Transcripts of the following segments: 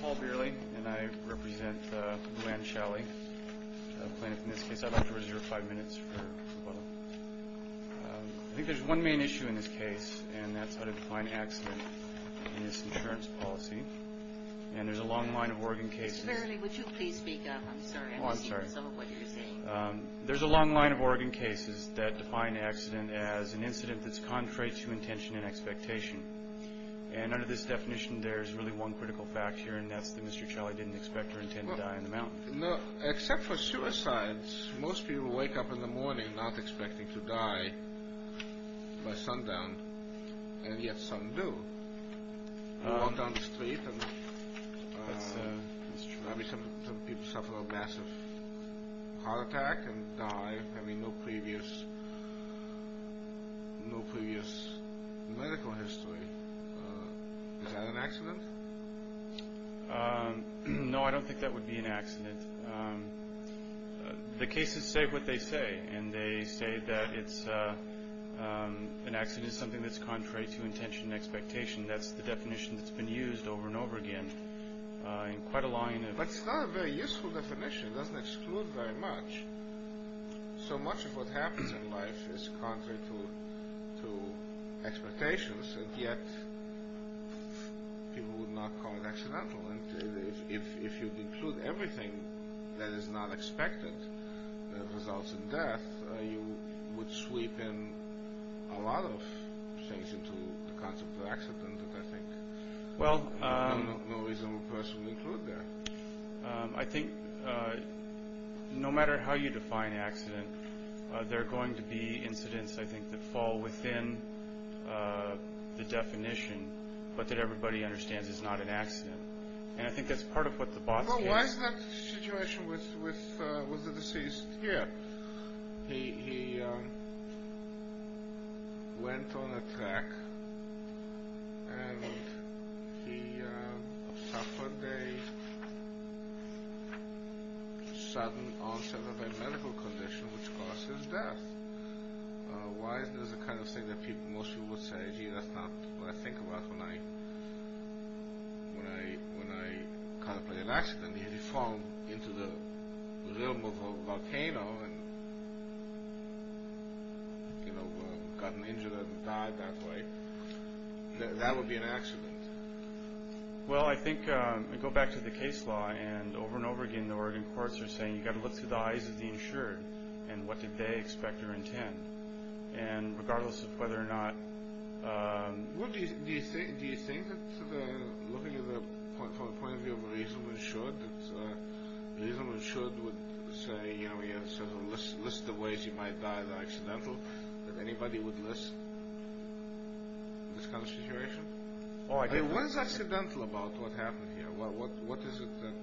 Paul Bearley, and I represent Lou Anne Shalley, a plaintiff in this case. I'd like to reserve five minutes for... I think there's one main issue in this case, and that's how to define accident in this insurance policy. And there's a long line of Oregon cases... Mr. Bearley, would you please speak up? I'm sorry, I'm not seeing some of what you're saying. Oh, I'm sorry. There's a long line of Oregon cases that define accident as an incident that's contrary to intention and expectation. And under this definition, there's really one critical fact here, and that's that Mr. Challey didn't expect or intend to die on the mountain. Except for suicides, most people wake up in the morning not expecting to die by sundown, and yet some do. They walk down the street and... That's true. Some people suffer a massive heart attack and die having no previous medical history. Is that an accident? No, I don't think that would be an accident. The cases say what they say, and they say that an accident is something that's contrary to intention and expectation. That's the It's not a very useful definition. It doesn't exclude very much. So much of what happens in life is contrary to expectations, and yet people would not call it accidental. And if you include everything that is not expected that results in death, you would sweep in a lot of things into the concept of accident that I think no reasonable person would include there. I think no matter how you define accident, there are going to be incidents, I think, that fall within the definition, but that everybody understands is not an accident. And I think that's part of what the boss... Why is that situation with the deceased here? He went on a trek, and he suffered a sudden onset of a medical condition which caused his death. Why is this the kind of thing that into the realm of a volcano and got injured and died that way? That would be an accident. Well, I think I go back to the case law, and over and over again the Oregon courts are saying you've got to look through the eyes of the insured and what did they expect or intend. And regardless of whether or not... Do you think, looking from the point of view of a reasonable insured, that a reasonable insured would say, list the ways you might die that are accidental, that anybody would list in this kind of situation? What is accidental about what happened here? What is it that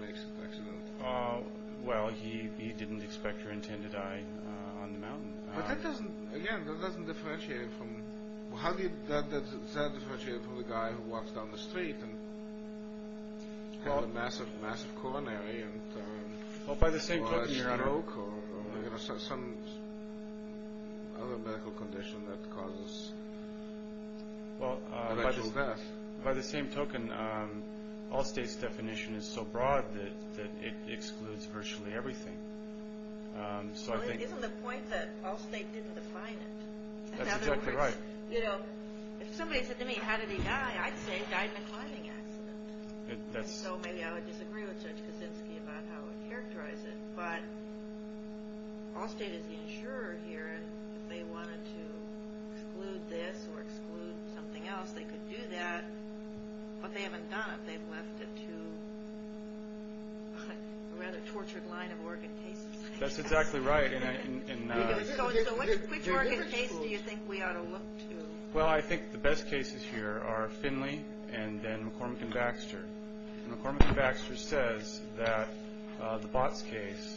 makes it accidental? Well, he didn't expect or intend to die on the mountain. But that doesn't, again, that doesn't differentiate from... How does that differentiate from the guy who walks down the street and had a massive coronary and had a stroke or some other medical condition that causes a medical death? Well, by the same token, Allstate's definition is so broad that it excludes virtually everything. So isn't the point that Allstate didn't define it? That's exactly right. You know, if somebody said to me, how did he die? I'd say he died in a climbing accident. So maybe I would disagree with Judge Kaczynski about how I would characterize it, but Allstate is the insurer here, and if they wanted to exclude this or exclude something else, they could do that, but they haven't done it. They've left it to a rather tortured line of organ cases. That's exactly right. So which organ case do you think we ought to look to? Well, I think the best cases here are Finley and then McCormick and Baxter. McCormick and Baxter says that the Botts case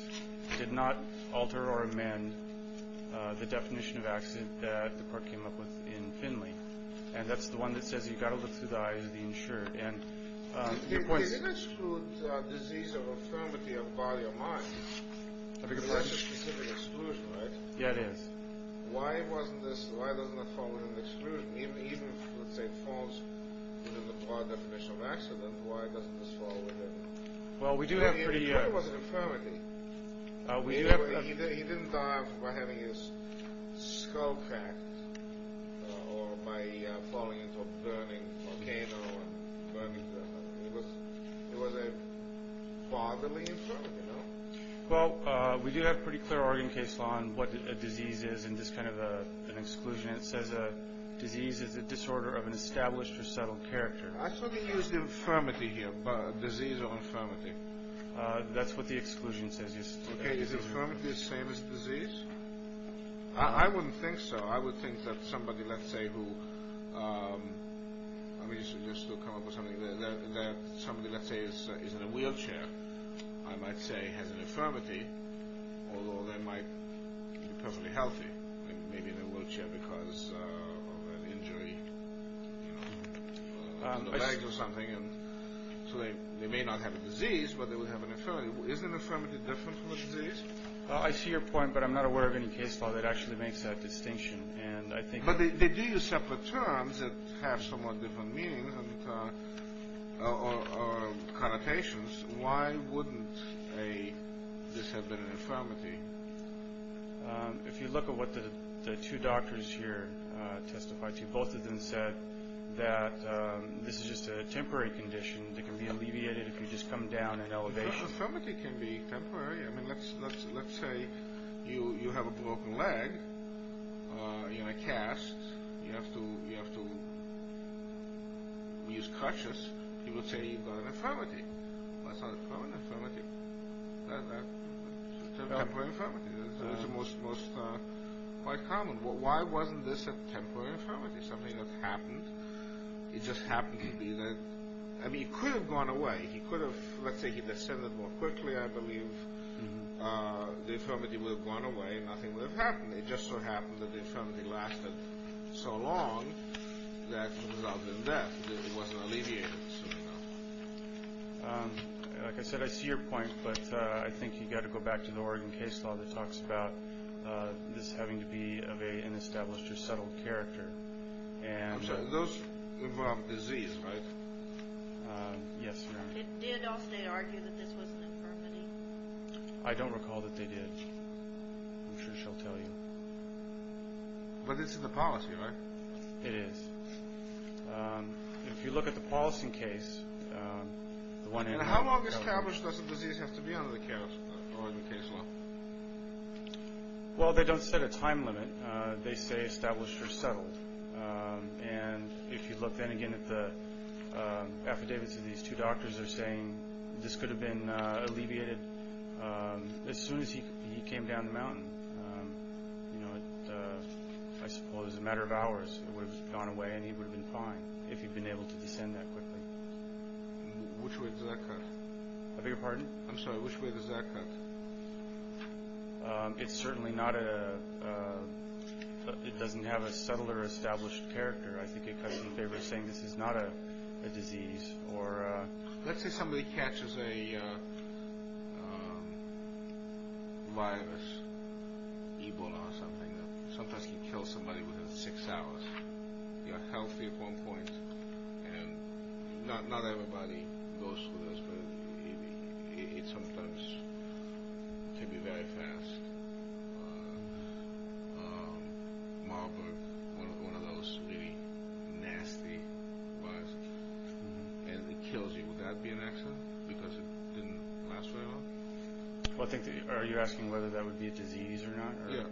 did not alter or amend the definition of accident that the court came up with in Finley, and that's the one that says you've got to look through the eyes of the insurer. It didn't exclude disease or infirmity of body or mind. That's a specific exclusion, right? Yeah, it is. Why doesn't that fall within the exclusion? Even if, let's say, it falls within the broad definition of accident, why doesn't this fall within it? Well, we do have pretty... ...or by falling into a burning volcano. It was a fatherly infirmity, no? Well, we do have a pretty clear organ case on what a disease is and just kind of an exclusion. It says a disease is a disorder of an established or settled character. I thought they used infirmity here, disease or infirmity. That's what the exclusion says. Okay, is infirmity the same as disease? I wouldn't think so. I would think that somebody, let's say, who... I mean, just to come up with something, that somebody, let's say, is in a wheelchair, I might say has an infirmity, although they might be perfectly healthy, maybe in a wheelchair because of an injury on the legs or something, and so they may not have a disease, but they would have an infirmity. Is an infirmity different from a disease? I see your point, but I'm not aware of any case law that actually makes that distinction, and I think... But they do use separate terms that have somewhat different meanings or connotations. Why wouldn't this have been an infirmity? If you look at what the two doctors here testified to, both of them said that this is just a temporary condition that can be alleviated if you just come down in elevation. An infirmity can be temporary. I mean, let's say you have a broken leg in a cast. You have to use crutches. You would say you've got an infirmity. That's not a permanent infirmity. That's a temporary infirmity. It's quite common. Why wasn't this a temporary infirmity, something that happened? It just happened to be that... I mean, it could have gone away. He could have, let's say, he descended more quickly, I believe. The infirmity would have gone away and nothing would have happened. It just so happened that the infirmity lasted so long that, rather than that, it wasn't alleviated. Like I said, I see your point, but I think you've got to go back to the Oregon case law that talks about this having to be of an established or settled character. I'm sorry, those involve disease, right? Yes, ma'am. It did also argue that this was an infirmity. I don't recall that they did. I'm sure she'll tell you. But it's in the policy, right? It is. If you look at the policy case, the one in Oregon... How well established does a disease have to be under the Oregon case law? Well, they don't set a time limit. They say established or settled. And if you look then again at the affidavits of these two doctors, they're saying this could have been alleviated as soon as he came down the mountain. I suppose in a matter of hours it would have gone away and he would have been fine if he'd been able to descend that quickly. Which way does that cut? I beg your pardon? I'm sorry, which way does that cut? It certainly doesn't have a settled or established character. I think it cuts in favor of saying this is not a disease. Let's say somebody catches a virus, Ebola or something. Sometimes you kill somebody within six hours. You're healthy at one point. Not everybody goes through this, but it sometimes can be very fast. Marburg, one of those really nasty viruses, and it kills you. Would that be an accident because it didn't last very long? Are you asking whether that would be a disease or not? Yeah.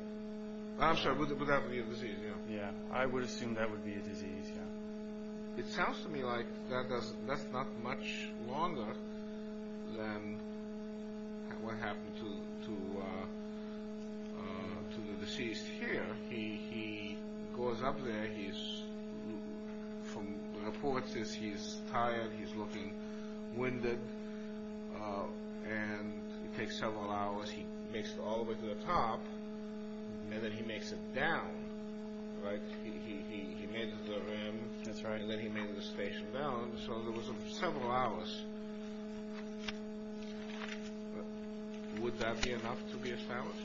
I'm sorry, would that be a disease, yeah? Yeah, I would assume that would be a disease, yeah. It sounds to me like that's not much longer than what happened to the deceased here. He goes up there. The report says he's tired, he's looking winded, and it takes several hours. He makes it all the way to the top, and then he makes it down. He made it to the rim, and then he made it to the station down. So there was several hours. Would that be enough to be established?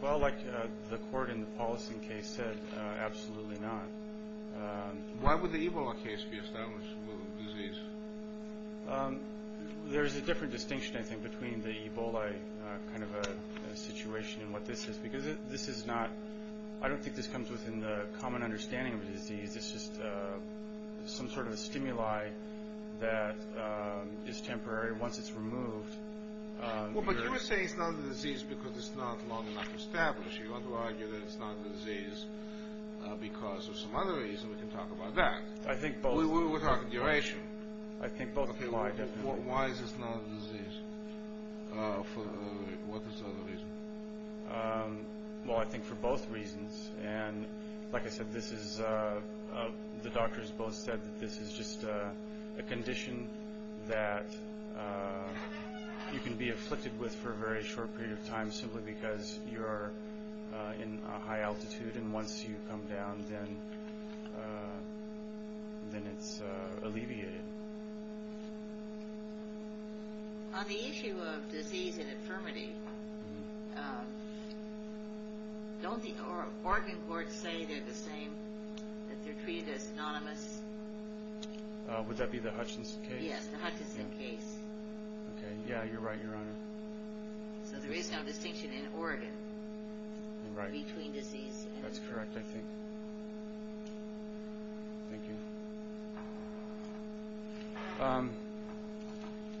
Well, like the court in the Paulson case said, absolutely not. Why would the Ebola case be established with a disease? There's a different distinction, I think, between the Ebola kind of a situation and what this is. Because this is not – I don't think this comes within the common understanding of a disease. It's just some sort of a stimuli that is temporary. Once it's removed, you're – Well, but you would say it's not a disease because it's not long enough established. You want to argue that it's not a disease because of some other reason. We can talk about that. I think both. We're talking duration. I think both. Why is this not a disease? What is the other reason? Well, I think for both reasons. And like I said, this is – the doctors both said that this is just a condition that you can be afflicted with for a very short period of time simply because you're in a high altitude, and once you come down, then it's alleviated. On the issue of disease and infirmity, don't the Oregon courts say they're the same, that they're treated as synonymous? Would that be the Hutchinson case? Yes, the Hutchinson case. Okay, yeah, you're right, Your Honor. So there is no distinction in Oregon between disease and infirmity. That's correct, I think. Thank you.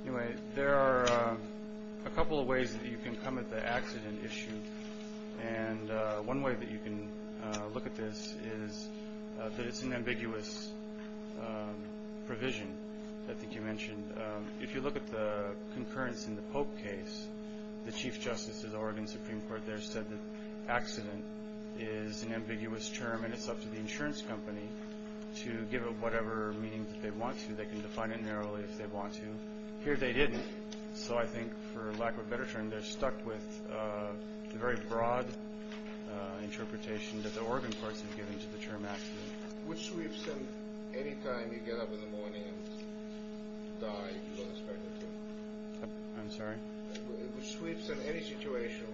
Anyway, there are a couple of ways that you can come at the accident issue, and one way that you can look at this is that it's an ambiguous provision, I think you mentioned. And if you look at the concurrence in the Pope case, the Chief Justice of the Oregon Supreme Court there said that accident is an ambiguous term and it's up to the insurance company to give it whatever meaning that they want to. They can define it narrowly if they want to. Here they didn't. So I think for lack of a better term, they're stuck with the very broad interpretation that the Oregon courts have given to the term accident. Which sweeps in any time you get up in the morning and die, you don't expect it to? I'm sorry? Which sweeps in any situation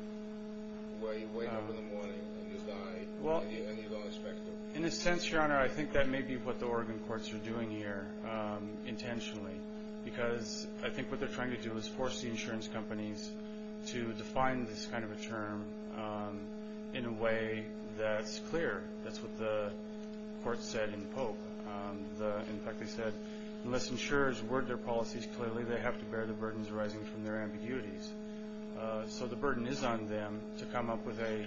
where you wake up in the morning and you die and you don't expect it? In a sense, Your Honor, I think that may be what the Oregon courts are doing here intentionally because I think what they're trying to do is force the insurance companies to define this kind of a term in a way that's clear. That's what the court said in the Pope. In fact, they said, unless insurers word their policies clearly, they have to bear the burdens arising from their ambiguities. So the burden is on them to come up with a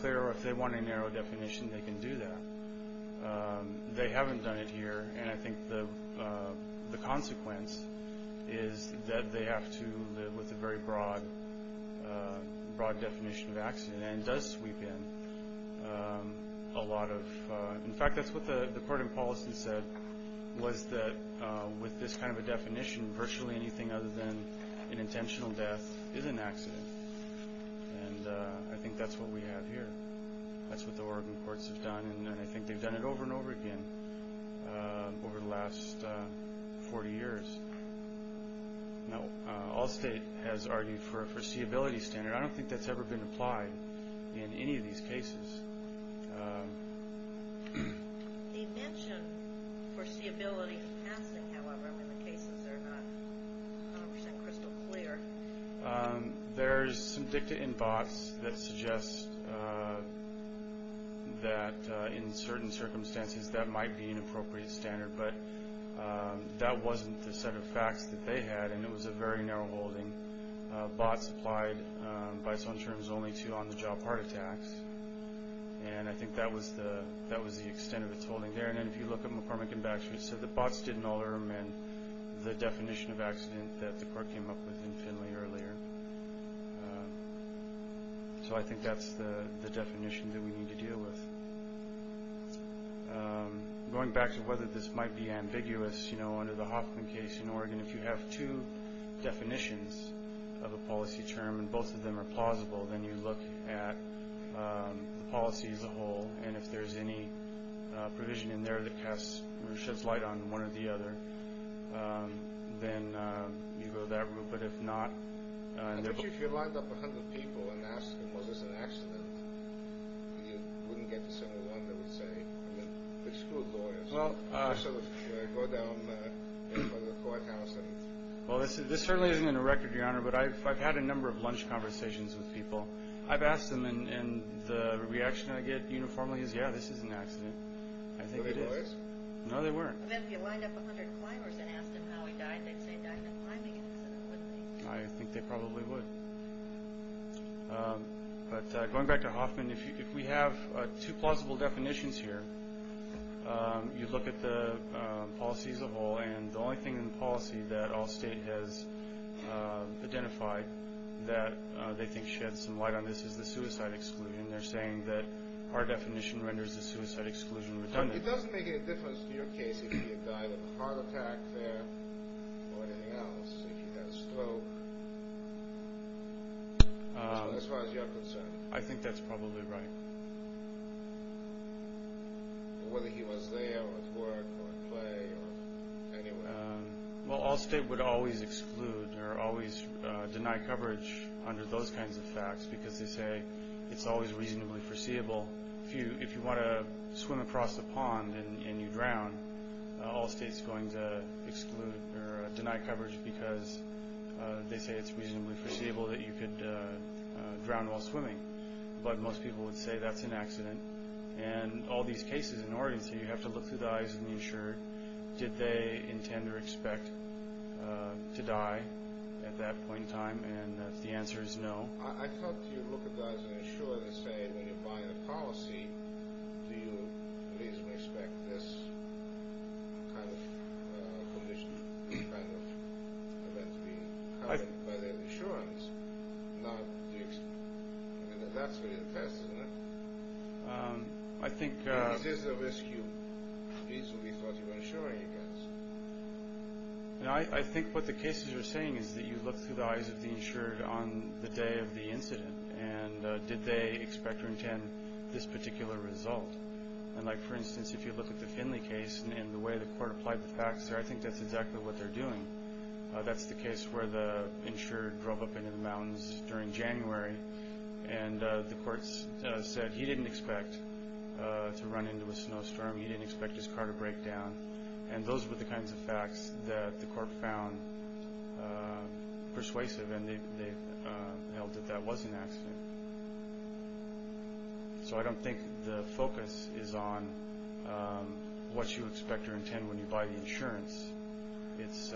clear, or if they want a narrow definition, they can do that. They haven't done it here. And I think the consequence is that they have to live with a very broad definition of accident. And it does sweep in a lot of – in fact, that's what the court in Paulson said, was that with this kind of a definition, virtually anything other than an intentional death is an accident. And I think that's what we have here. That's what the Oregon courts have done, and I think they've done it over and over again over the last 40 years. Now, Allstate has argued for a foreseeability standard. I don't think that's ever been applied in any of these cases. They mention foreseeability in passing, however, when the cases are not 100% crystal clear. There's some dicta in BOTS that suggests that in certain circumstances that might be an appropriate standard, but that wasn't the set of facts that they had, and it was a very narrow holding. BOTS applied by its own terms only to on-the-job heart attacks, and I think that was the extent of its holding there. And then if you look at McCormick and Baxter, it said that BOTS didn't alter the definition of accident that the court came up with in Finley earlier. So I think that's the definition that we need to deal with. Going back to whether this might be ambiguous, you know, under the Hoffman case in Oregon, if you have two definitions of a policy term and both of them are plausible, then you look at the policy as a whole, and if there's any provision in there that casts or sheds light on one or the other, then you go that route. But if not— But if you lined up 100 people and asked them, well, there's an accident, you wouldn't get to 71, they would say. I mean, exclude lawyers. You sort of go down to the courthouse and— Well, this certainly isn't in the record, Your Honor, but I've had a number of lunch conversations with people. I've asked them, and the reaction I get uniformly is, yeah, this is an accident. I think it is. Were they lawyers? No, they weren't. But if you lined up 100 climbers and asked them how he died, they'd say he died in a climbing incident, wouldn't they? I think they probably would. But going back to Hoffman, if we have two plausible definitions here, you look at the policies of all, and the only thing in the policy that all state has identified that they think sheds some light on this is the suicide exclusion. They're saying that our definition renders the suicide exclusion redundant. It doesn't make any difference to your case if he had died of a heart attack there or anything else, if he had a stroke, as far as you're concerned. I think that's probably right. Whether he was there or at work or at play or anywhere. Well, all state would always exclude or always deny coverage under those kinds of facts because they say it's always reasonably foreseeable. If you want to swim across a pond and you drown, all state's going to exclude or deny coverage because they say it's reasonably foreseeable that you could drown while swimming. But most people would say that's an accident. And all these cases in Oregon, so you have to look through the eyes of the insurer. Did they intend or expect to die at that point in time? And the answer is no. I thought you'd look at the eyes of the insurer and say, when you're buying a policy, do you reasonably expect this kind of condition, this kind of event to be caused by the insurance? Now, that's really the test, isn't it? Is this a risk you reasonably thought you were insuring against? I think what the cases are saying is that you look through the eyes of the insurer on the day of the incident and did they expect or intend this particular result. And, like, for instance, if you look at the Finley case and the way the court applied the facts there, I think that's exactly what they're doing. That's the case where the insurer drove up into the mountains during January and the court said he didn't expect to run into a snowstorm. He didn't expect his car to break down. And those were the kinds of facts that the court found persuasive and they held that that was an accident. So I don't think the focus is on what you expect or intend when you buy the insurance. It's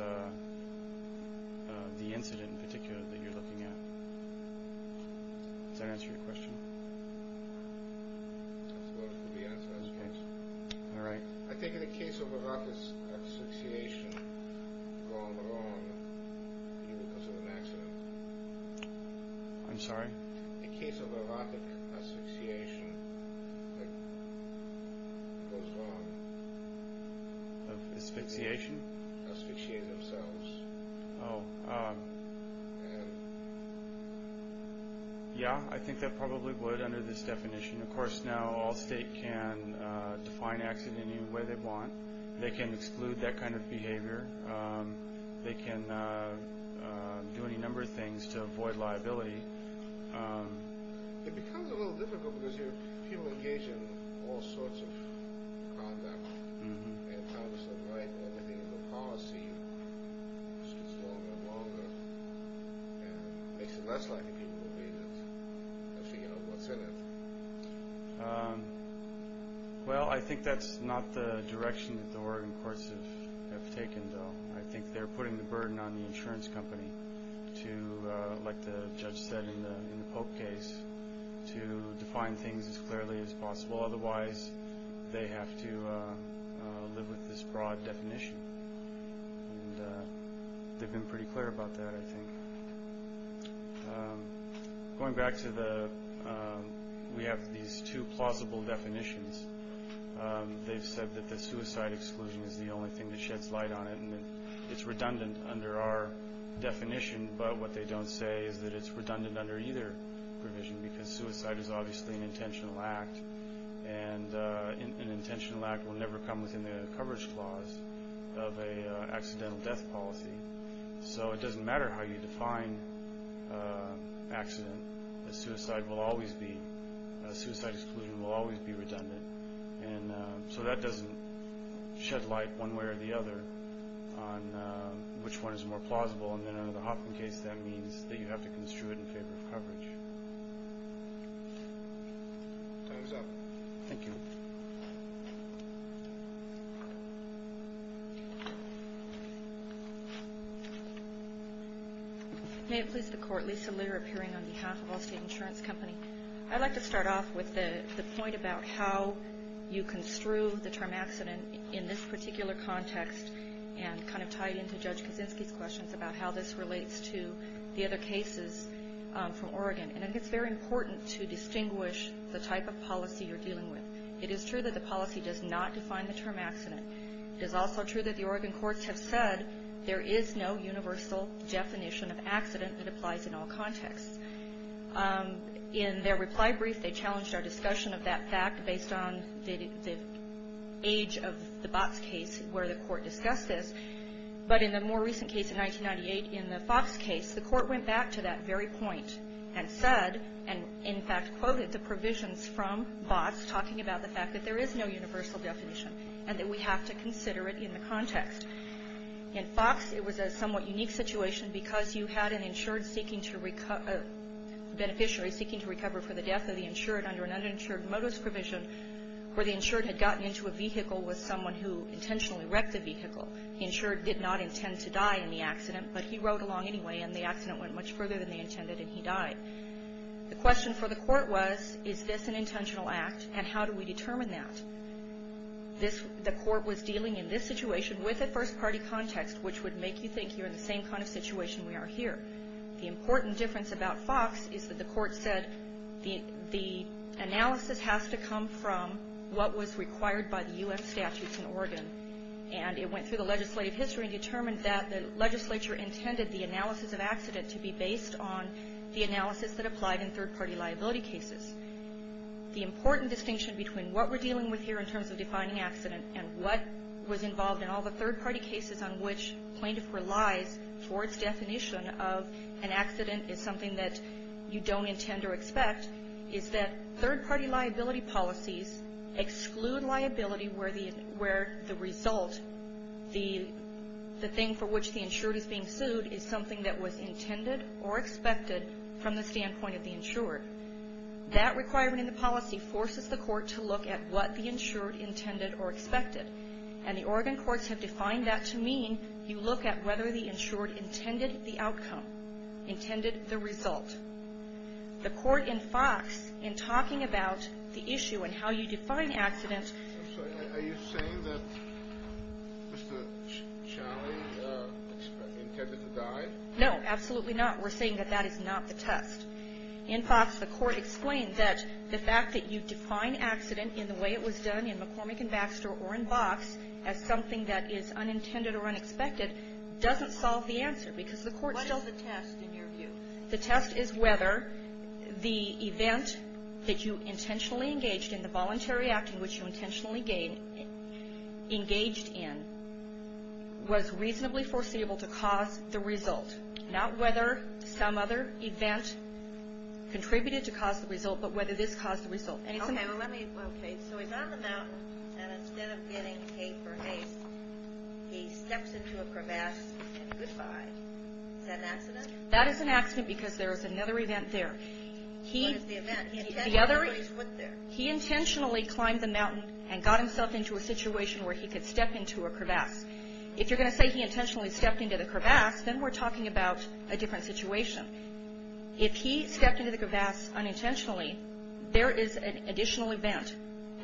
the incident in particular that you're looking at. Does that answer your question? I suppose it would be answered. Okay. All right. I think in the case of the Rockets Association, going along, you would consider an accident. I'm sorry? In the case of the Rockets Association, it goes along. Asphyxiation? Asphyxiate themselves. Oh. Yeah, I think that probably would under this definition. Of course, now all states can define accident in any way they want. They can exclude that kind of behavior. They can do any number of things to avoid liability. It becomes a little difficult because people engage in all sorts of conduct and Congress might want to think of a policy that's longer and longer and makes it less likely people will read it and figure out what's in it. Well, I think that's not the direction that the Oregon courts have taken, though. I think they're putting the burden on the insurance company to, like the judge said in the Pope case, to define things as clearly as possible. Otherwise, they have to live with this broad definition. They've been pretty clear about that, I think. Going back to the we have these two plausible definitions, they've said that the suicide exclusion is the only thing that sheds light on it and that it's redundant under our definition, but what they don't say is that it's redundant under either provision because suicide is obviously an intentional act, and an intentional act will never come within the coverage clause of an accidental death policy. So it doesn't matter how you define accident. Suicide exclusion will always be redundant. So that doesn't shed light one way or the other on which one is more plausible, and then under the Hopkins case that means that you have to construe it in favor of coverage. Time's up. Thank you. May it please the Court, Lisa Litter appearing on behalf of Allstate Insurance Company. I'd like to start off with the point about how you construe the term accident in this particular context and kind of tie it into Judge Kaczynski's questions about how this relates to the other cases from Oregon. And I think it's very important to distinguish the type of policy you're dealing with. It is true that the policy does not define the term accident. It is also true that the Oregon courts have said there is no universal definition of accident that applies in all contexts. In their reply brief, they challenged our discussion of that fact based on the age of the Botts case where the court discussed this. But in the more recent case in 1998 in the Fox case, the court went back to that very point and said and in fact quoted the provisions from Botts talking about the fact that there is no universal definition and that we have to consider it in the context. In Fox, it was a somewhat unique situation because you had an insured seeking to recover, beneficiary seeking to recover for the death of the insured under an uninsured modus provision where the insured had gotten into a vehicle with someone who intentionally wrecked the vehicle. The insured did not intend to die in the accident, but he rode along anyway and the accident went much further than they intended and he died. The question for the court was, is this an intentional act and how do we determine that? The court was dealing in this situation with a first party context which would make you think you're in the same kind of situation we are here. The important difference about Fox is that the court said the analysis has to come from what was required by the U.S. statutes in Oregon and it went through the legislative history and determined that the legislature intended the analysis of accident to be based on the analysis that applied in third party liability cases. The important distinction between what we're dealing with here in terms of defining accident and what was involved in all the third party cases on which plaintiff relies for its definition of an accident is something that you don't intend or expect is that third party liability policies exclude liability where the result, the thing for which the insured is being sued is something that was intended or expected from the standpoint of the insured. That requirement in the policy forces the court to look at what the insured intended or expected. And the Oregon courts have defined that to mean you look at whether the insured intended the outcome, intended the result. The court in Fox in talking about the issue and how you define accident. I'm sorry. Are you saying that Mr. Challi intended to die? No, absolutely not. We're saying that that is not the test. In Fox the court explained that the fact that you define accident in the way it was done in McCormick and Baxter or in Box as something that is unintended or unexpected doesn't solve the answer because the court still. What is the test in your view? The test is whether the event that you intentionally engaged in, the voluntary act in which you intentionally engaged in, was reasonably foreseeable to cause the result, not whether some other event contributed to cause the result, but whether this caused the result. Okay. So he's on the mountain and instead of getting tape or haste, he steps into a crevasse and goodbyes. Is that an accident? That is an accident because there is another event there. What is the event? He intentionally climbed the mountain and got himself into a situation where he could step into a crevasse. If you're going to say he intentionally stepped into the crevasse, then we're talking about a different situation. If he stepped into the crevasse unintentionally, there is an additional event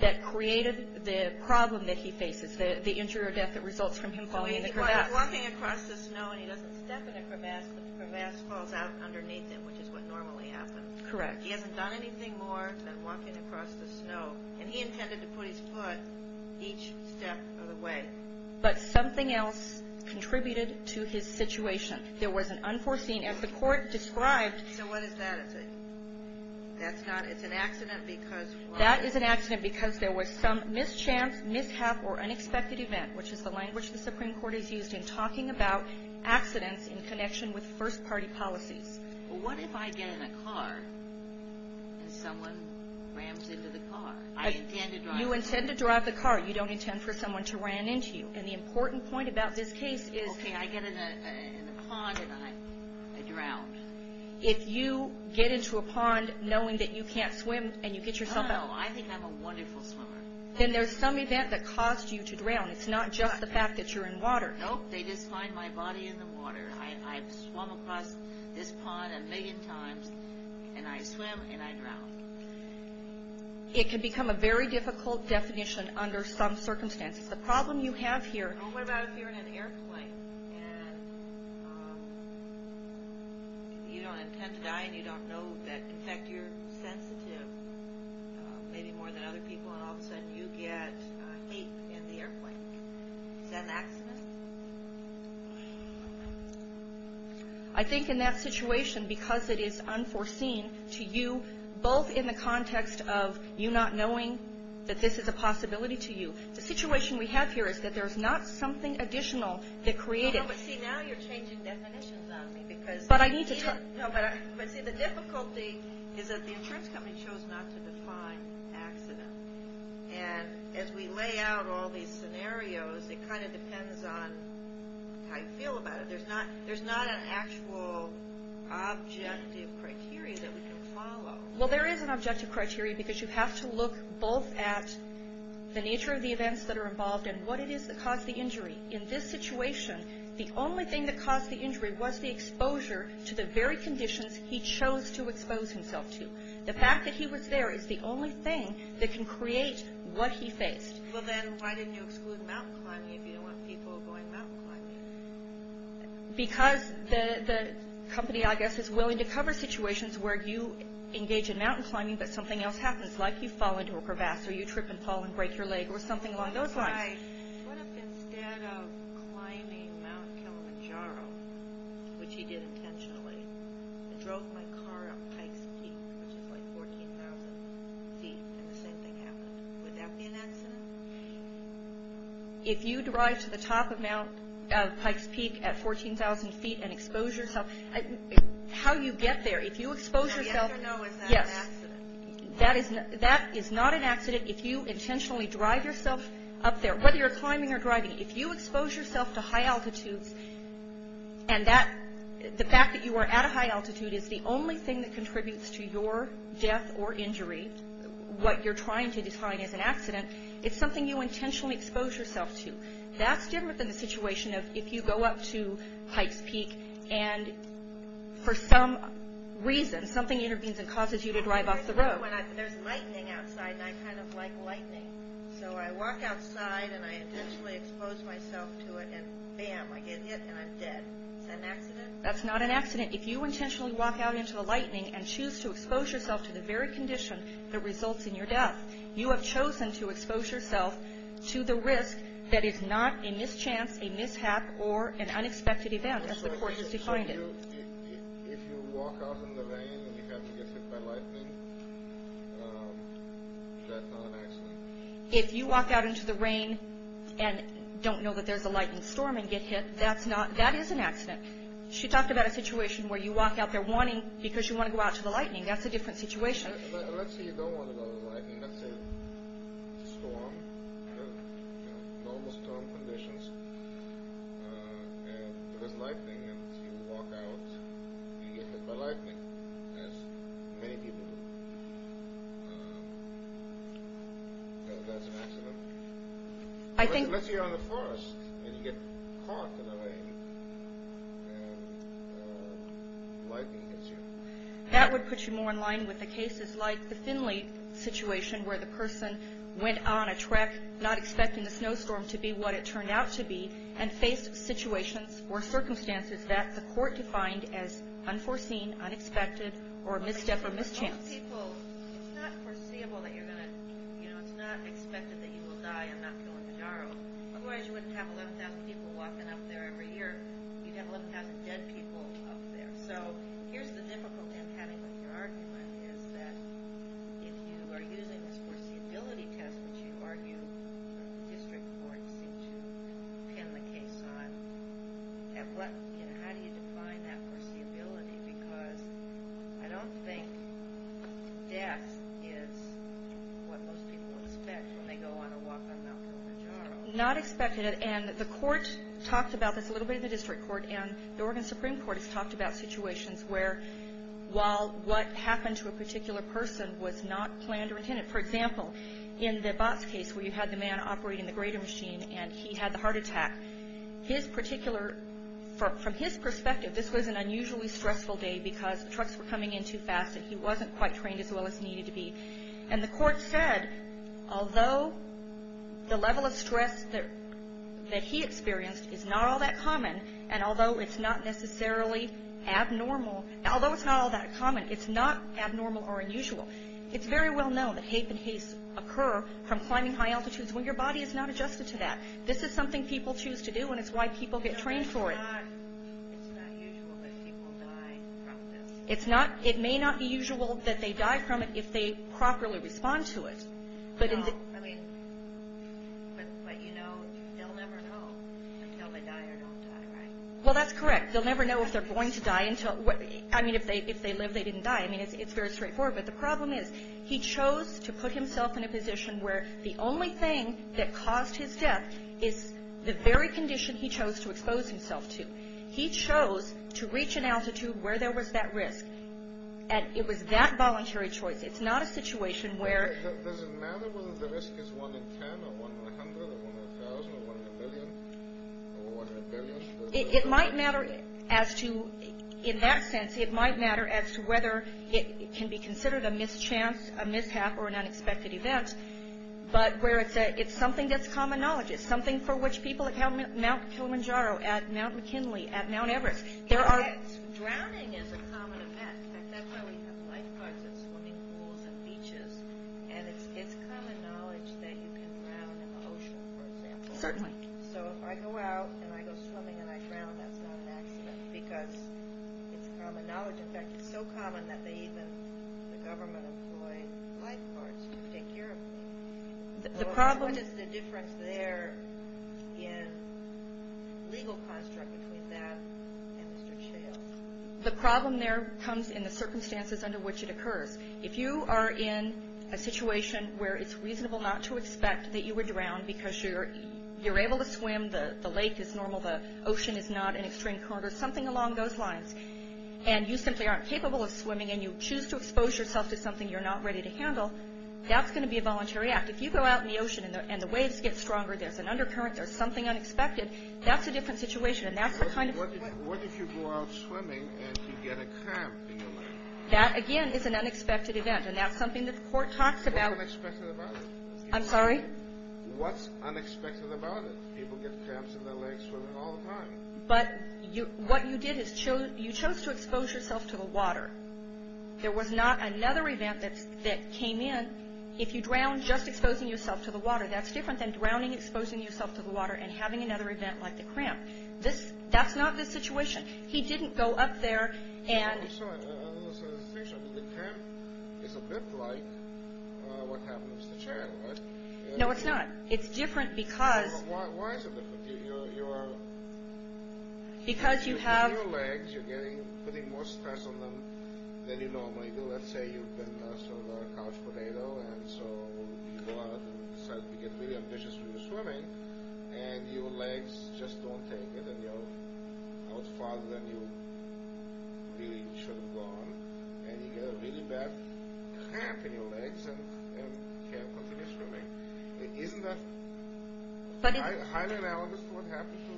that created the problem that he faces, the injury or death that results from him falling in the crevasse. So he's walking across the snow and he doesn't step in a crevasse, but the crevasse falls out underneath him, which is what normally happens. Correct. He hasn't done anything more than walking across the snow, and he intended to put his foot each step of the way. But something else contributed to his situation. There was an unforeseen, as the Court described. So what is that? It's an accident because what? That is an accident because there was some mischance, mishap, or unexpected event, which is the language the Supreme Court has used in talking about accidents in connection with first party policies. Well, what if I get in a car and someone rams into the car? I intend to drive the car. You intend to drive the car. You don't intend for someone to ram into you. And the important point about this case is. Okay, I get in a pond and I drown. If you get into a pond knowing that you can't swim and you get yourself out. Oh, I think I'm a wonderful swimmer. Then there's some event that caused you to drown. It's not just the fact that you're in water. Nope, they just find my body in the water. I've swum across this pond a million times, and I swim and I drown. It can become a very difficult definition under some circumstances. The problem you have here. What about if you're in an airplane and you don't intend to die and you don't know that, in fact, you're sensitive, maybe more than other people, and all of a sudden you get hate in the airplane? Is that an accident? I think in that situation, because it is unforeseen to you, both in the context of you not knowing that this is a possibility to you. The situation we have here is that there's not something additional that created it. No, but see, now you're changing definitions on me. But I need to talk. No, but see, the difficulty is that the insurance company chose not to define accident. And as we lay out all these scenarios, it kind of depends on how you feel about it. There's not an actual objective criteria that we can follow. Well, there is an objective criteria because you have to look both at the nature of the events that are involved and what it is that caused the injury. In this situation, the only thing that caused the injury was the exposure to the very conditions he chose to expose himself to. The fact that he was there is the only thing that can create what he faced. Well, then why didn't you exclude mountain climbing if you don't want people going mountain climbing? Because the company, I guess, is willing to cover situations where you engage in mountain climbing, but something else happens, like you fall into a crevasse or you trip and fall and break your leg or something along those lines. What if instead of climbing Mount Kilimanjaro, which he did intentionally, I drove my car up Pike's Peak, which is like 14,000 feet, and the same thing happened? Would that be an accident? If you drive to the top of Pike's Peak at 14,000 feet and expose yourself, how do you get there? Now, yes or no, is that an accident? Yes. That is not an accident if you intentionally drive yourself up there, whether you're climbing or driving. If you expose yourself to high altitudes and the fact that you are at a high altitude is the only thing that contributes to your death or injury, what you're trying to define as an accident, it's something you intentionally expose yourself to. That's different than the situation of if you go up to Pike's Peak and for some reason, something intervenes and causes you to drive off the road. There's lightning outside and I kind of like lightning, so I walk outside and I intentionally expose myself to it, and bam, I get hit and I'm dead. Is that an accident? That's not an accident. If you intentionally walk out into the lightning and choose to expose yourself to the very condition that results in your death, you have chosen to expose yourself to the risk that is not a mischance, a mishap, or an unexpected event as the court has defined it. So if you walk out in the rain and you happen to get hit by lightning, that's not an accident? If you walk out into the rain and don't know that there's a lightning storm and get hit, that is an accident. She talked about a situation where you walk out there wanting, but you want to go out to the lightning. That's a different situation. Let's say you don't want to go to the lightning. Let's say it's a storm, normal storm conditions, and there's lightning and you walk out and you get hit by lightning, as many people do. That's an accident? Let's say you're in the forest and you get caught in the rain and lightning hits you. That would put you more in line with the cases like the Finley situation where the person went on a trek, not expecting the snowstorm to be what it turned out to be, and faced situations or circumstances that the court defined as unforeseen, unexpected, or a misstep or mischance. It's not foreseeable that you're going to, you know, it's not expected that you will die and not go into Darrow. Otherwise you wouldn't have 11,000 people walking up there every year. You'd have 11,000 dead people up there. So here's the difficulty of having an argument, is that if you are using this foreseeability test, which you argue district courts seem to pin the case on, how do you define that foreseeability? Because I don't think death is what most people expect when they go on a walk on Mount Kilimanjaro. Not expected. And the court talked about this a little bit in the district court, and the Oregon Supreme Court has talked about situations where while what happened to a particular person was not planned or intended. For example, in the Botts case where you had the man operating the grater machine and he had the heart attack, from his perspective this was an unusually stressful day because trucks were coming in too fast and he wasn't quite trained as well as he needed to be. And the court said although the level of stress that he experienced is not all that common and although it's not necessarily abnormal, although it's not all that common, it's not abnormal or unusual. It's very well known that hate and haste occur from climbing high altitudes when your body is not adjusted to that. This is something people choose to do and it's why people get trained for it. It's not usual that people die from this. It may not be usual that they die from it if they properly respond to it. But you know they'll never know until they die or don't die, right? Well, that's correct. They'll never know if they're going to die. I mean, if they live, they didn't die. I mean, it's very straightforward. But the problem is he chose to put himself in a position where the only thing that caused his death is the very condition he chose to expose himself to. He chose to reach an altitude where there was that risk. And it was that voluntary choice. It's not a situation where... Does it matter whether the risk is one in ten or one in a hundred or one in a thousand or one in a billion or one in a billion? It might matter as to, in that sense, it might matter as to whether it can be considered a mischance, a mishap, or an unexpected event, but where it's something that's common knowledge. Something for which people at Mount Kilimanjaro, at Mount McKinley, at Mount Everest, there are... Drowning is a common event. In fact, that's why we have lifeguards at swimming pools and beaches. And it's common knowledge that you can drown in the ocean, for example. Certainly. So if I go out and I go swimming and I drown, that's not an accident because it's common knowledge. In fact, it's so common that they even, the government, employ lifeguards to take care of me. What is the difference there in legal construct between that and Mr. Chales? The problem there comes in the circumstances under which it occurs. If you are in a situation where it's reasonable not to expect that you would drown because you're able to swim, the lake is normal, the ocean is not an extreme corner, something along those lines, and you simply aren't capable of swimming and you choose to expose yourself to something you're not ready to handle, that's going to be a voluntary act. If you go out in the ocean and the waves get stronger, there's an undercurrent, there's something unexpected, that's a different situation. And that's the kind of... What if you go out swimming and you get a cramp in your leg? That, again, is an unexpected event. And that's something that the court talks about. What's unexpected about it? I'm sorry? What's unexpected about it? People get cramps in their legs swimming all the time. But what you did is you chose to expose yourself to the water. There was not another event that came in. If you drown just exposing yourself to the water, that's different than drowning, exposing yourself to the water, and having another event like the cramp. That's not the situation. He didn't go up there and... I'm sorry, I don't understand the situation. The cramp is a bit like what happens to the chair, right? No, it's not. It's different because... Why is it different? You're... Because you have... Because you're putting more stress on them than you normally do. Let's say you've been sort of a couch potato, and so you go out and you get really ambitious when you're swimming, and your legs just don't take it, and you're out farther than you really should have gone, and you get a really bad cramp in your legs, and you can't continue swimming. Isn't that highly analogous to what happens to...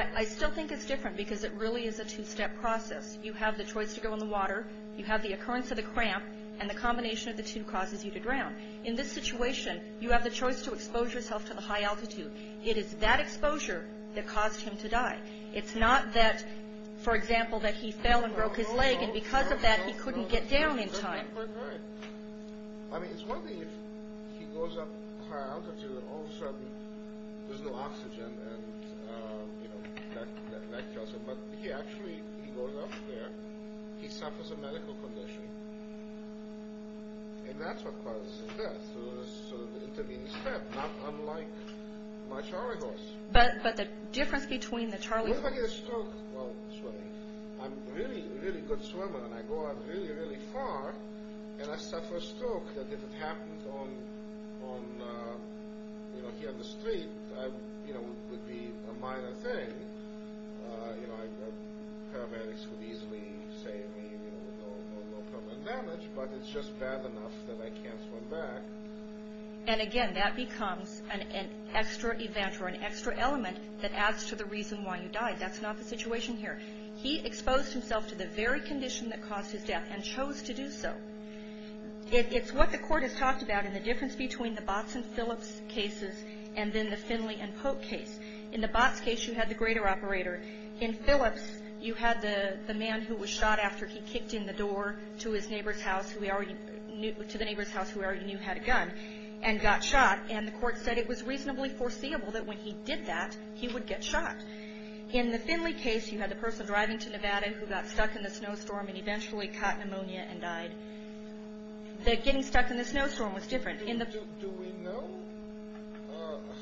I still think it's different because it really is a two-step process. You have the choice to go in the water, you have the occurrence of the cramp, and the combination of the two causes you to drown. In this situation, you have the choice to expose yourself to the high altitude. It is that exposure that caused him to die. It's not that, for example, that he fell and broke his leg, and because of that he couldn't get down in time. Right. I mean, it's one thing if he goes up high altitude, and all of a sudden there's no oxygen, and that kills him. But he actually, he goes up there, he suffers a medical condition, and that's what causes his death. It was sort of an intervening step, not unlike my charley horse. But the difference between the charley horse... When I get a stroke while swimming, I'm a really, really good swimmer, and I go out really, really far, and I suffer a stroke, and if it happens here on the street, it would be a minor thing. Paramedics would easily say no permanent damage, but it's just bad enough that I can't swim back. And again, that becomes an extra event or an extra element that adds to the reason why you died. That's not the situation here. He exposed himself to the very condition that caused his death and chose to do so. It's what the court has talked about in the difference between the Botts and Phillips cases and then the Finley and Pope case. In the Botts case, you had the greater operator. In Phillips, you had the man who was shot after he kicked in the door to the neighbor's house who already knew had a gun and got shot, and the court said it was reasonably foreseeable that when he did that, he would get shot. In the Finley case, you had the person driving to Nevada who got stuck in the snowstorm and eventually caught pneumonia and died. Getting stuck in the snowstorm was different. Do we know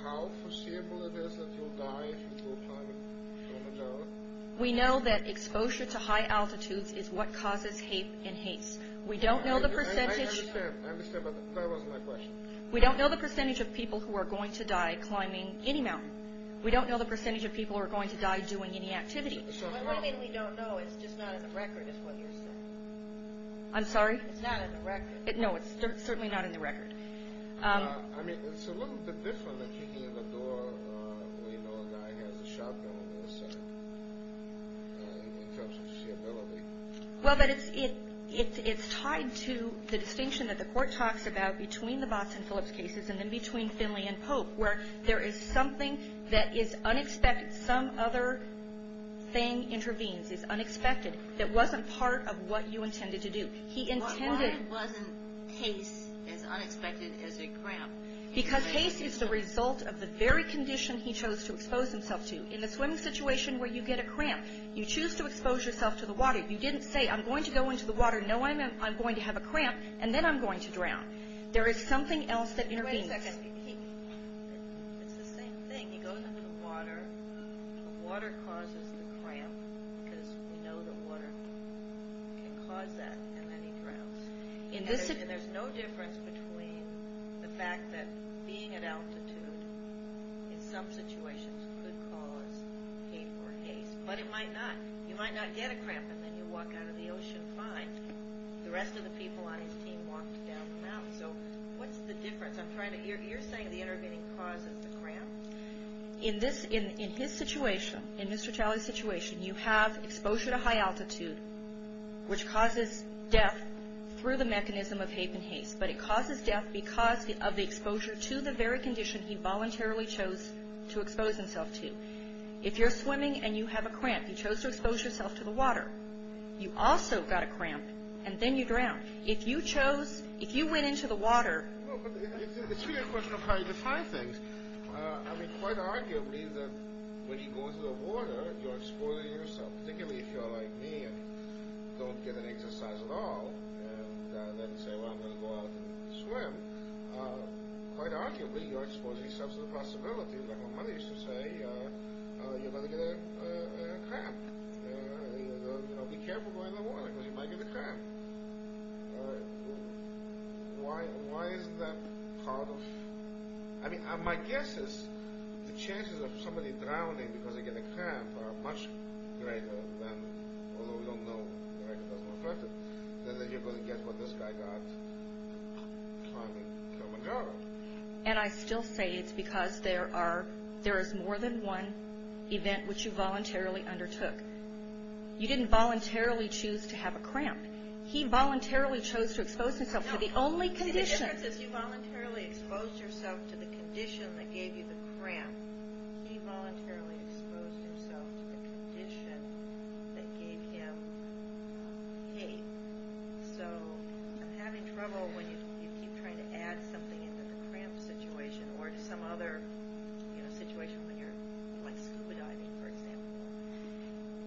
how foreseeable it is that you'll die if you go climbing from a tower? We know that exposure to high altitudes is what causes hate and haste. We don't know the percentage... I understand, but that wasn't my question. We don't know the percentage of people who are going to die climbing any mountain. We don't know the percentage of people who are going to die doing any activity. What do you mean we don't know? It's just not in the record, is what you're saying. I'm sorry? It's not in the record. No, it's certainly not in the record. I mean, it's a little bit different than kicking in the door when you know a guy has a shotgun in his hand when it comes to foreseeability. Well, but it's tied to the distinction that the court talks about between the Botts and Phillips cases and then between Finley and Pope where there is something that is unexpected. Some other thing intervenes. It's unexpected. It wasn't part of what you intended to do. He intended... Why wasn't haste as unexpected as a cramp? Because haste is the result of the very condition he chose to expose himself to. In the swimming situation where you get a cramp, you choose to expose yourself to the water. You didn't say, I'm going to go into the water, know I'm going to have a cramp, and then I'm going to drown. There is something else that intervenes. It's the same thing. He goes into the water. The water causes the cramp because we know the water can cause that, and then he drowns. And there's no difference between the fact that being at altitude in some situations could cause hate or haste. But it might not. You might not get a cramp and then you walk out of the ocean fine. The rest of the people on his team walked down the mountain. So what's the difference? You're saying the intervening causes the cramp? In his situation, in Mr. Talley's situation, you have exposure to high altitude, which causes death through the mechanism of hate and haste. But it causes death because of the exposure to the very condition he voluntarily chose to expose himself to. If you're swimming and you have a cramp, you chose to expose yourself to the water, you also got a cramp, and then you drown. If you chose, if you went into the water, it's really a question of how you define things. I mean, quite arguably, when you go into the water, you're exposing yourself. Particularly if you're like me and don't get an exercise at all and then say, well, I'm going to go out and swim. Quite arguably, you're exposing yourself to the possibilities. Like my mother used to say, you're going to get a cramp. Be careful going in the water because you might get a cramp. All right. Why isn't that part of... I mean, my guess is the chances of somebody drowning because they get a cramp are much greater than... although we don't know the record doesn't reflect it. Then you're going to guess what this guy got climbing Kilimanjaro. And I still say it's because there are, there is more than one event which you voluntarily undertook. You didn't voluntarily choose to have a cramp. He voluntarily chose to expose himself to the only condition. See, the difference is you voluntarily exposed yourself to the condition that gave you the cramp. He voluntarily exposed himself to the condition that gave him pain. So, I'm having trouble when you keep trying to add something into the cramp situation or to some other situation when you're like scuba diving, for example.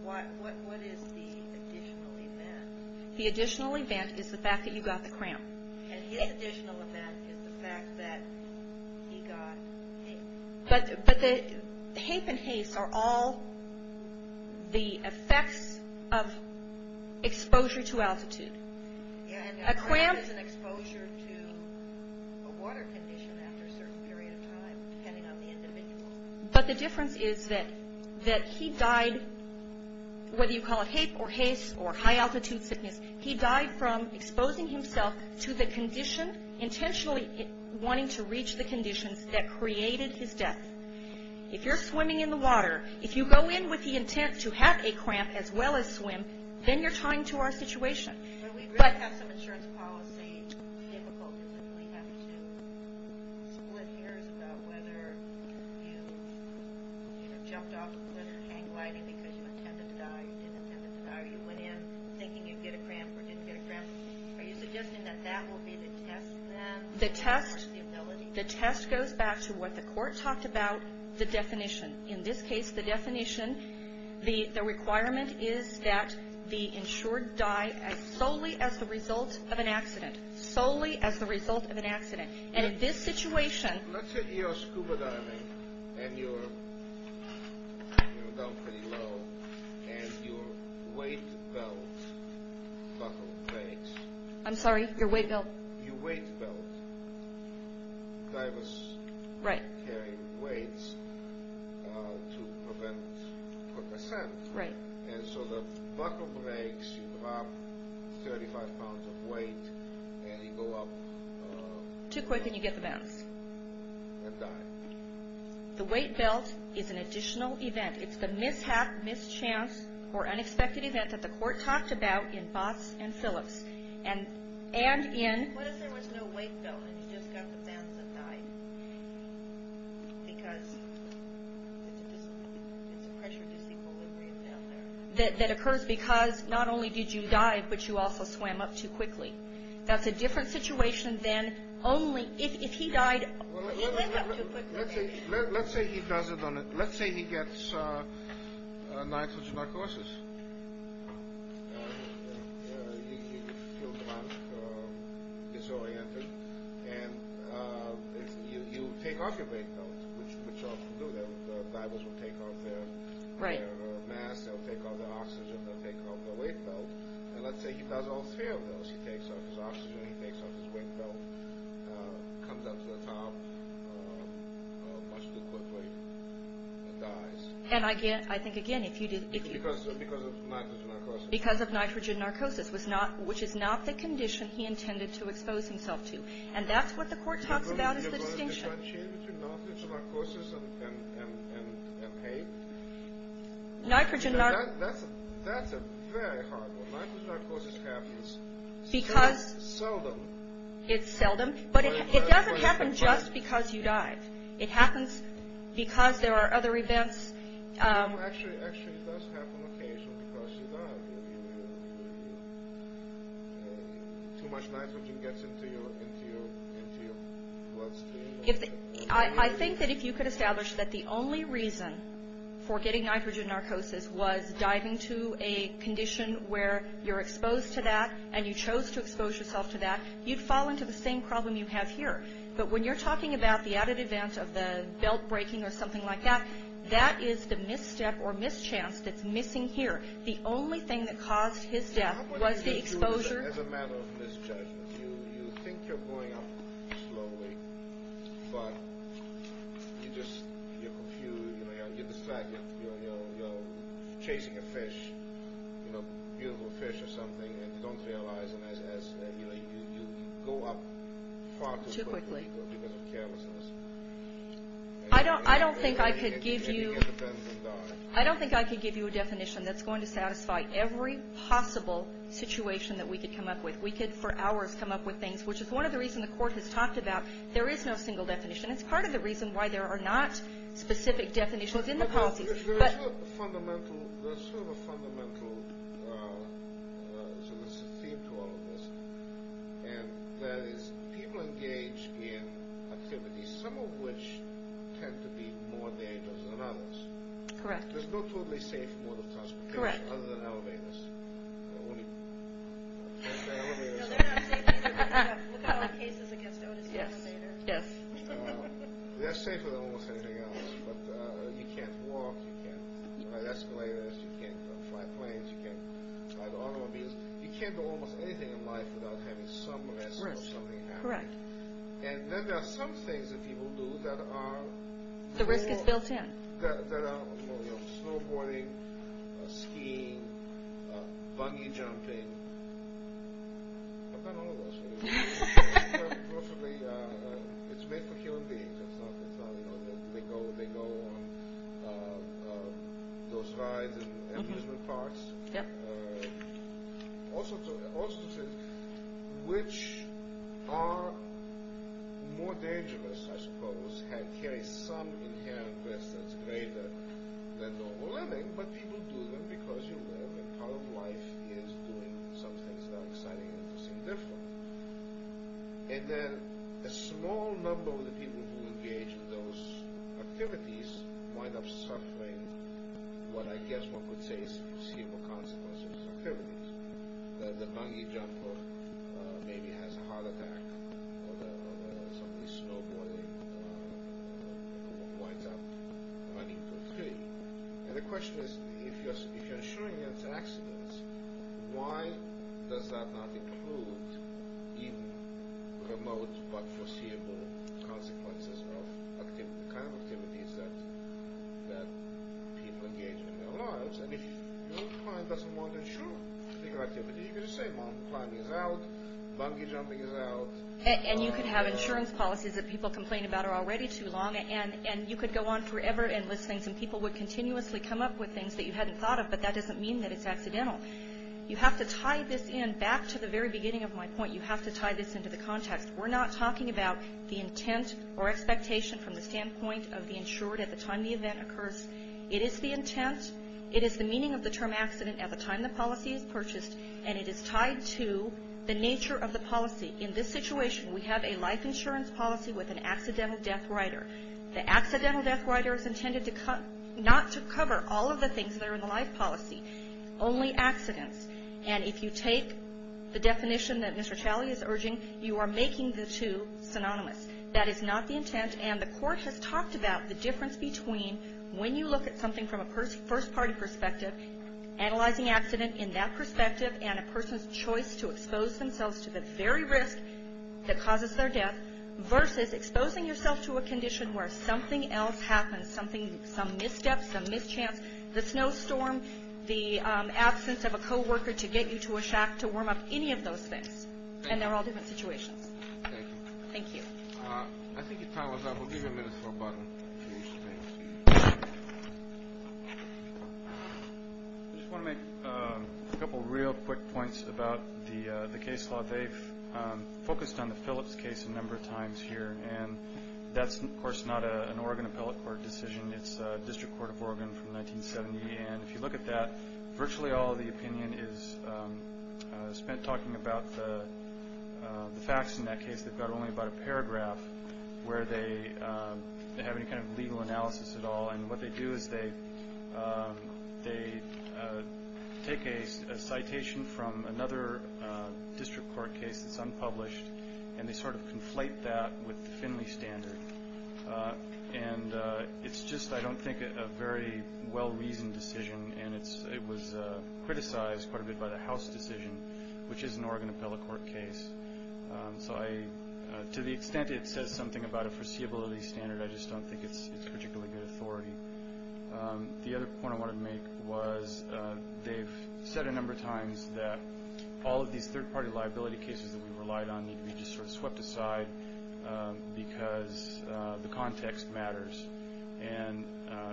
What is the additional event? The additional event is the fact that you got the cramp. And his additional event is the fact that he got haste. But the... Haste and haste are all the effects of exposure to altitude. And a cramp is an exposure to a water condition after a certain period of time depending on the individual. But the difference is that that he died, whether you call it hape or haste or high altitude sickness, he died from exposing himself to the condition, intentionally wanting to reach the conditions that created his death. If you're swimming in the water, if you go in with the intent to have a cramp as well as swim, then you're tying to our situation. But... We really have some insurance policy difficulties. We really have to split hairs about whether you jumped off a cliff or hang gliding because you intended to die or you didn't intend to die or you went in thinking you'd get a cramp or didn't get a cramp. Are you suggesting that that will be the test then? The test goes back to what the court talked about, the definition. In this case, the definition, the requirement is that the insured die solely as the result of an accident. Solely as the result of an accident. And in this situation... Let's say you're scuba diving and you're down pretty low and your weight belt buckle breaks. I'm sorry? Your weight belt? Your weight belt. Divers carry weights to prevent a cramp. And so the buckle breaks, you drop 35 pounds of weight and you go up... too quick and you get the bounce. And die. The weight belt is an additional event. It's the mishap, mischance or unexpected event that the court talked about in Botts and Phillips. And in... What if there was no weight belt and you just got the bounce and died? Because it's a pressure disequilibrium down there. That occurs because not only did you die, but you also swam up too quickly. That's a different situation than only... If he died... Let's say he does it on a... Let's say he gets nitrogen narcosis. He feels a lot disoriented and you take off your weight belt, which divers will take off their mask, they'll take off their oxygen, they'll take off their weight belt. And let's say he does all three of those. He takes off his oxygen, he takes off his weight belt, comes up to the top, much too quickly, and dies. And I think, again, if you did... Because of nitrogen narcosis. Because of nitrogen narcosis, which is not the condition he intended to expose himself to. And that's what the court talks about is the distinction. You're going to differentiate between nitrogen narcosis and pain? Nitrogen nar... That's a very hard one. Nitrogen narcosis happens... Because... It's seldom. It's seldom. But it doesn't happen just because you died. It happens because there are other events. Actually, it does happen occasionally because you die. Too much nitrogen gets into your bloodstream. I think that if you could establish that the only reason for getting nitrogen narcosis was diving to a condition where you're exposed to that and you chose to expose yourself to that, you'd fall into the same problem you have here. But when you're talking about the added event of the belt breaking or something like that, that is the misstep or mischance that's missing here. The only thing that caused his death was the exposure... As a matter of misjudgment, you think you're going up slowly, but you just... You're confused. You're distracted. You're chasing a fish, a beautiful fish or something, and you don't realize and you go up far too quickly because of carelessness. I don't think I could give you... And you get bent and die. I don't think I could give you a definition that's going to satisfy every possible situation that we could come up with. We could, for hours, come up with things, which is one of the reasons the court has talked about there is no single definition. It's part of the reason why there are not specific definitions in the policy. But there is a fundamental... There's sort of a fundamental... So this is the theme to all of this. And that is, people engage in activities, some of which tend to be more dangerous than others. Correct. There's no totally safe mode of transportation other than elevators. Only... No, they're not safe either. Look at all the cases against Otis elevator. Yes. They're safer than almost anything else, but you can't walk. You can't ride escalators. You can't fly planes. You can't ride automobiles. You can't do almost anything in life without having some risk of something happening. Correct. And then there are some things that people do that are... The risk is built in. That are, you know, snowboarding, skiing, buggy jumping. I've done all of those for you. Most of the... It's made for human beings. It's not, you know, they go on those rides in amusement parks. Yep. Also to... Which are more dangerous, I suppose, and carry some inherent risk that's greater than normal living, but people do them because you live, and part of life is doing some things that are exciting and interesting and different. And then a small number of the people who engage in those activities wind up suffering what I guess one could say is foreseeable consequences of those activities. The buggy jumper maybe has a heart attack or somebody snowboarding winds up running to a tree. And the question is, if you're insuring against accidents, why does that not include in remote but foreseeable consequences? The kind of activities that people engage in their lives. And if your client doesn't want to insure your activity, you could just say, climbing is out, buggy jumping is out. And you could have insurance policies that people complain about are already too long, and you could go on forever and list things, and people would continuously come up with things that you hadn't thought of, but that doesn't mean that it's accidental. You have to tie this in back to the very beginning of my point. You have to tie this into the context. We're not talking about the intent or expectation from the standpoint of the insured at the time the event occurs. It is the intent, it is the meaning of the term accident at the time the policy is purchased, and it is tied to the nature of the policy. In this situation, we have a life insurance policy with an accidental death rider. The accidental death rider is intended not to cover that are in the life policy, only accidents. And if you take the definition that Mr. Talley is urging, you are making the two synonymous. That is not the intent, and the court has talked about the difference between when you look at something from a first-party perspective, analyzing accident in that perspective, and a person's choice to expose themselves to the very risk that causes their death, versus exposing yourself to a condition where something else happens, something, some misstep, some mischance, the snowstorm, the absence of a co-worker to get you to a shack to warm up any of those things. And they're all different situations. Thank you. I think your time is up. We'll give you a minute for a button. I just want to make a couple of real quick points about the case law. They've focused on the Phillips case a number of times here, and that's, of course, not an Oregon appellate court decision. It's District Court of Oregon from 1970, and if you look at that, virtually all of the opinion is spent talking about the facts in that case. They've got only about a paragraph where they have any kind of legal analysis at all, and what they do is they take a citation from another district court case that's unpublished, and they sort of conflate that with the Finley standard. And it's just, I don't think, a very well-reasoned decision, and it was criticized quite a bit by the House decision, which is an Oregon appellate court case. So to the extent it says something about a foreseeability standard, I just don't think it's particularly good authority. The other point I wanted to make was they've said a number of times that all of these third-party liability cases that we relied on need to be just sort of swept aside because the context matters. And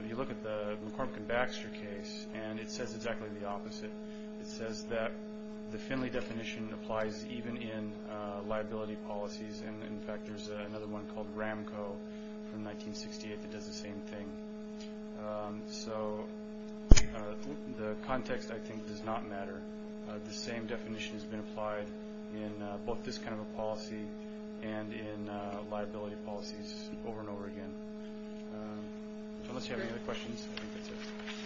you look at the McCormick and Baxter case, and it says exactly the opposite. It says that the Finley definition applies even in liability policies, and, in fact, there's another one called Ramco from 1968 that does the same thing. So the context, I think, does not matter. The same definition has been applied in both this kind of a policy and in liability policies over and over again. Unless you have any other questions, I think that's it.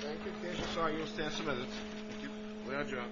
Thank you. Okay, I'm sorry. You're going to stand some minutes. Thank you. Way out of job. All rise. This court presents that you stand to hear.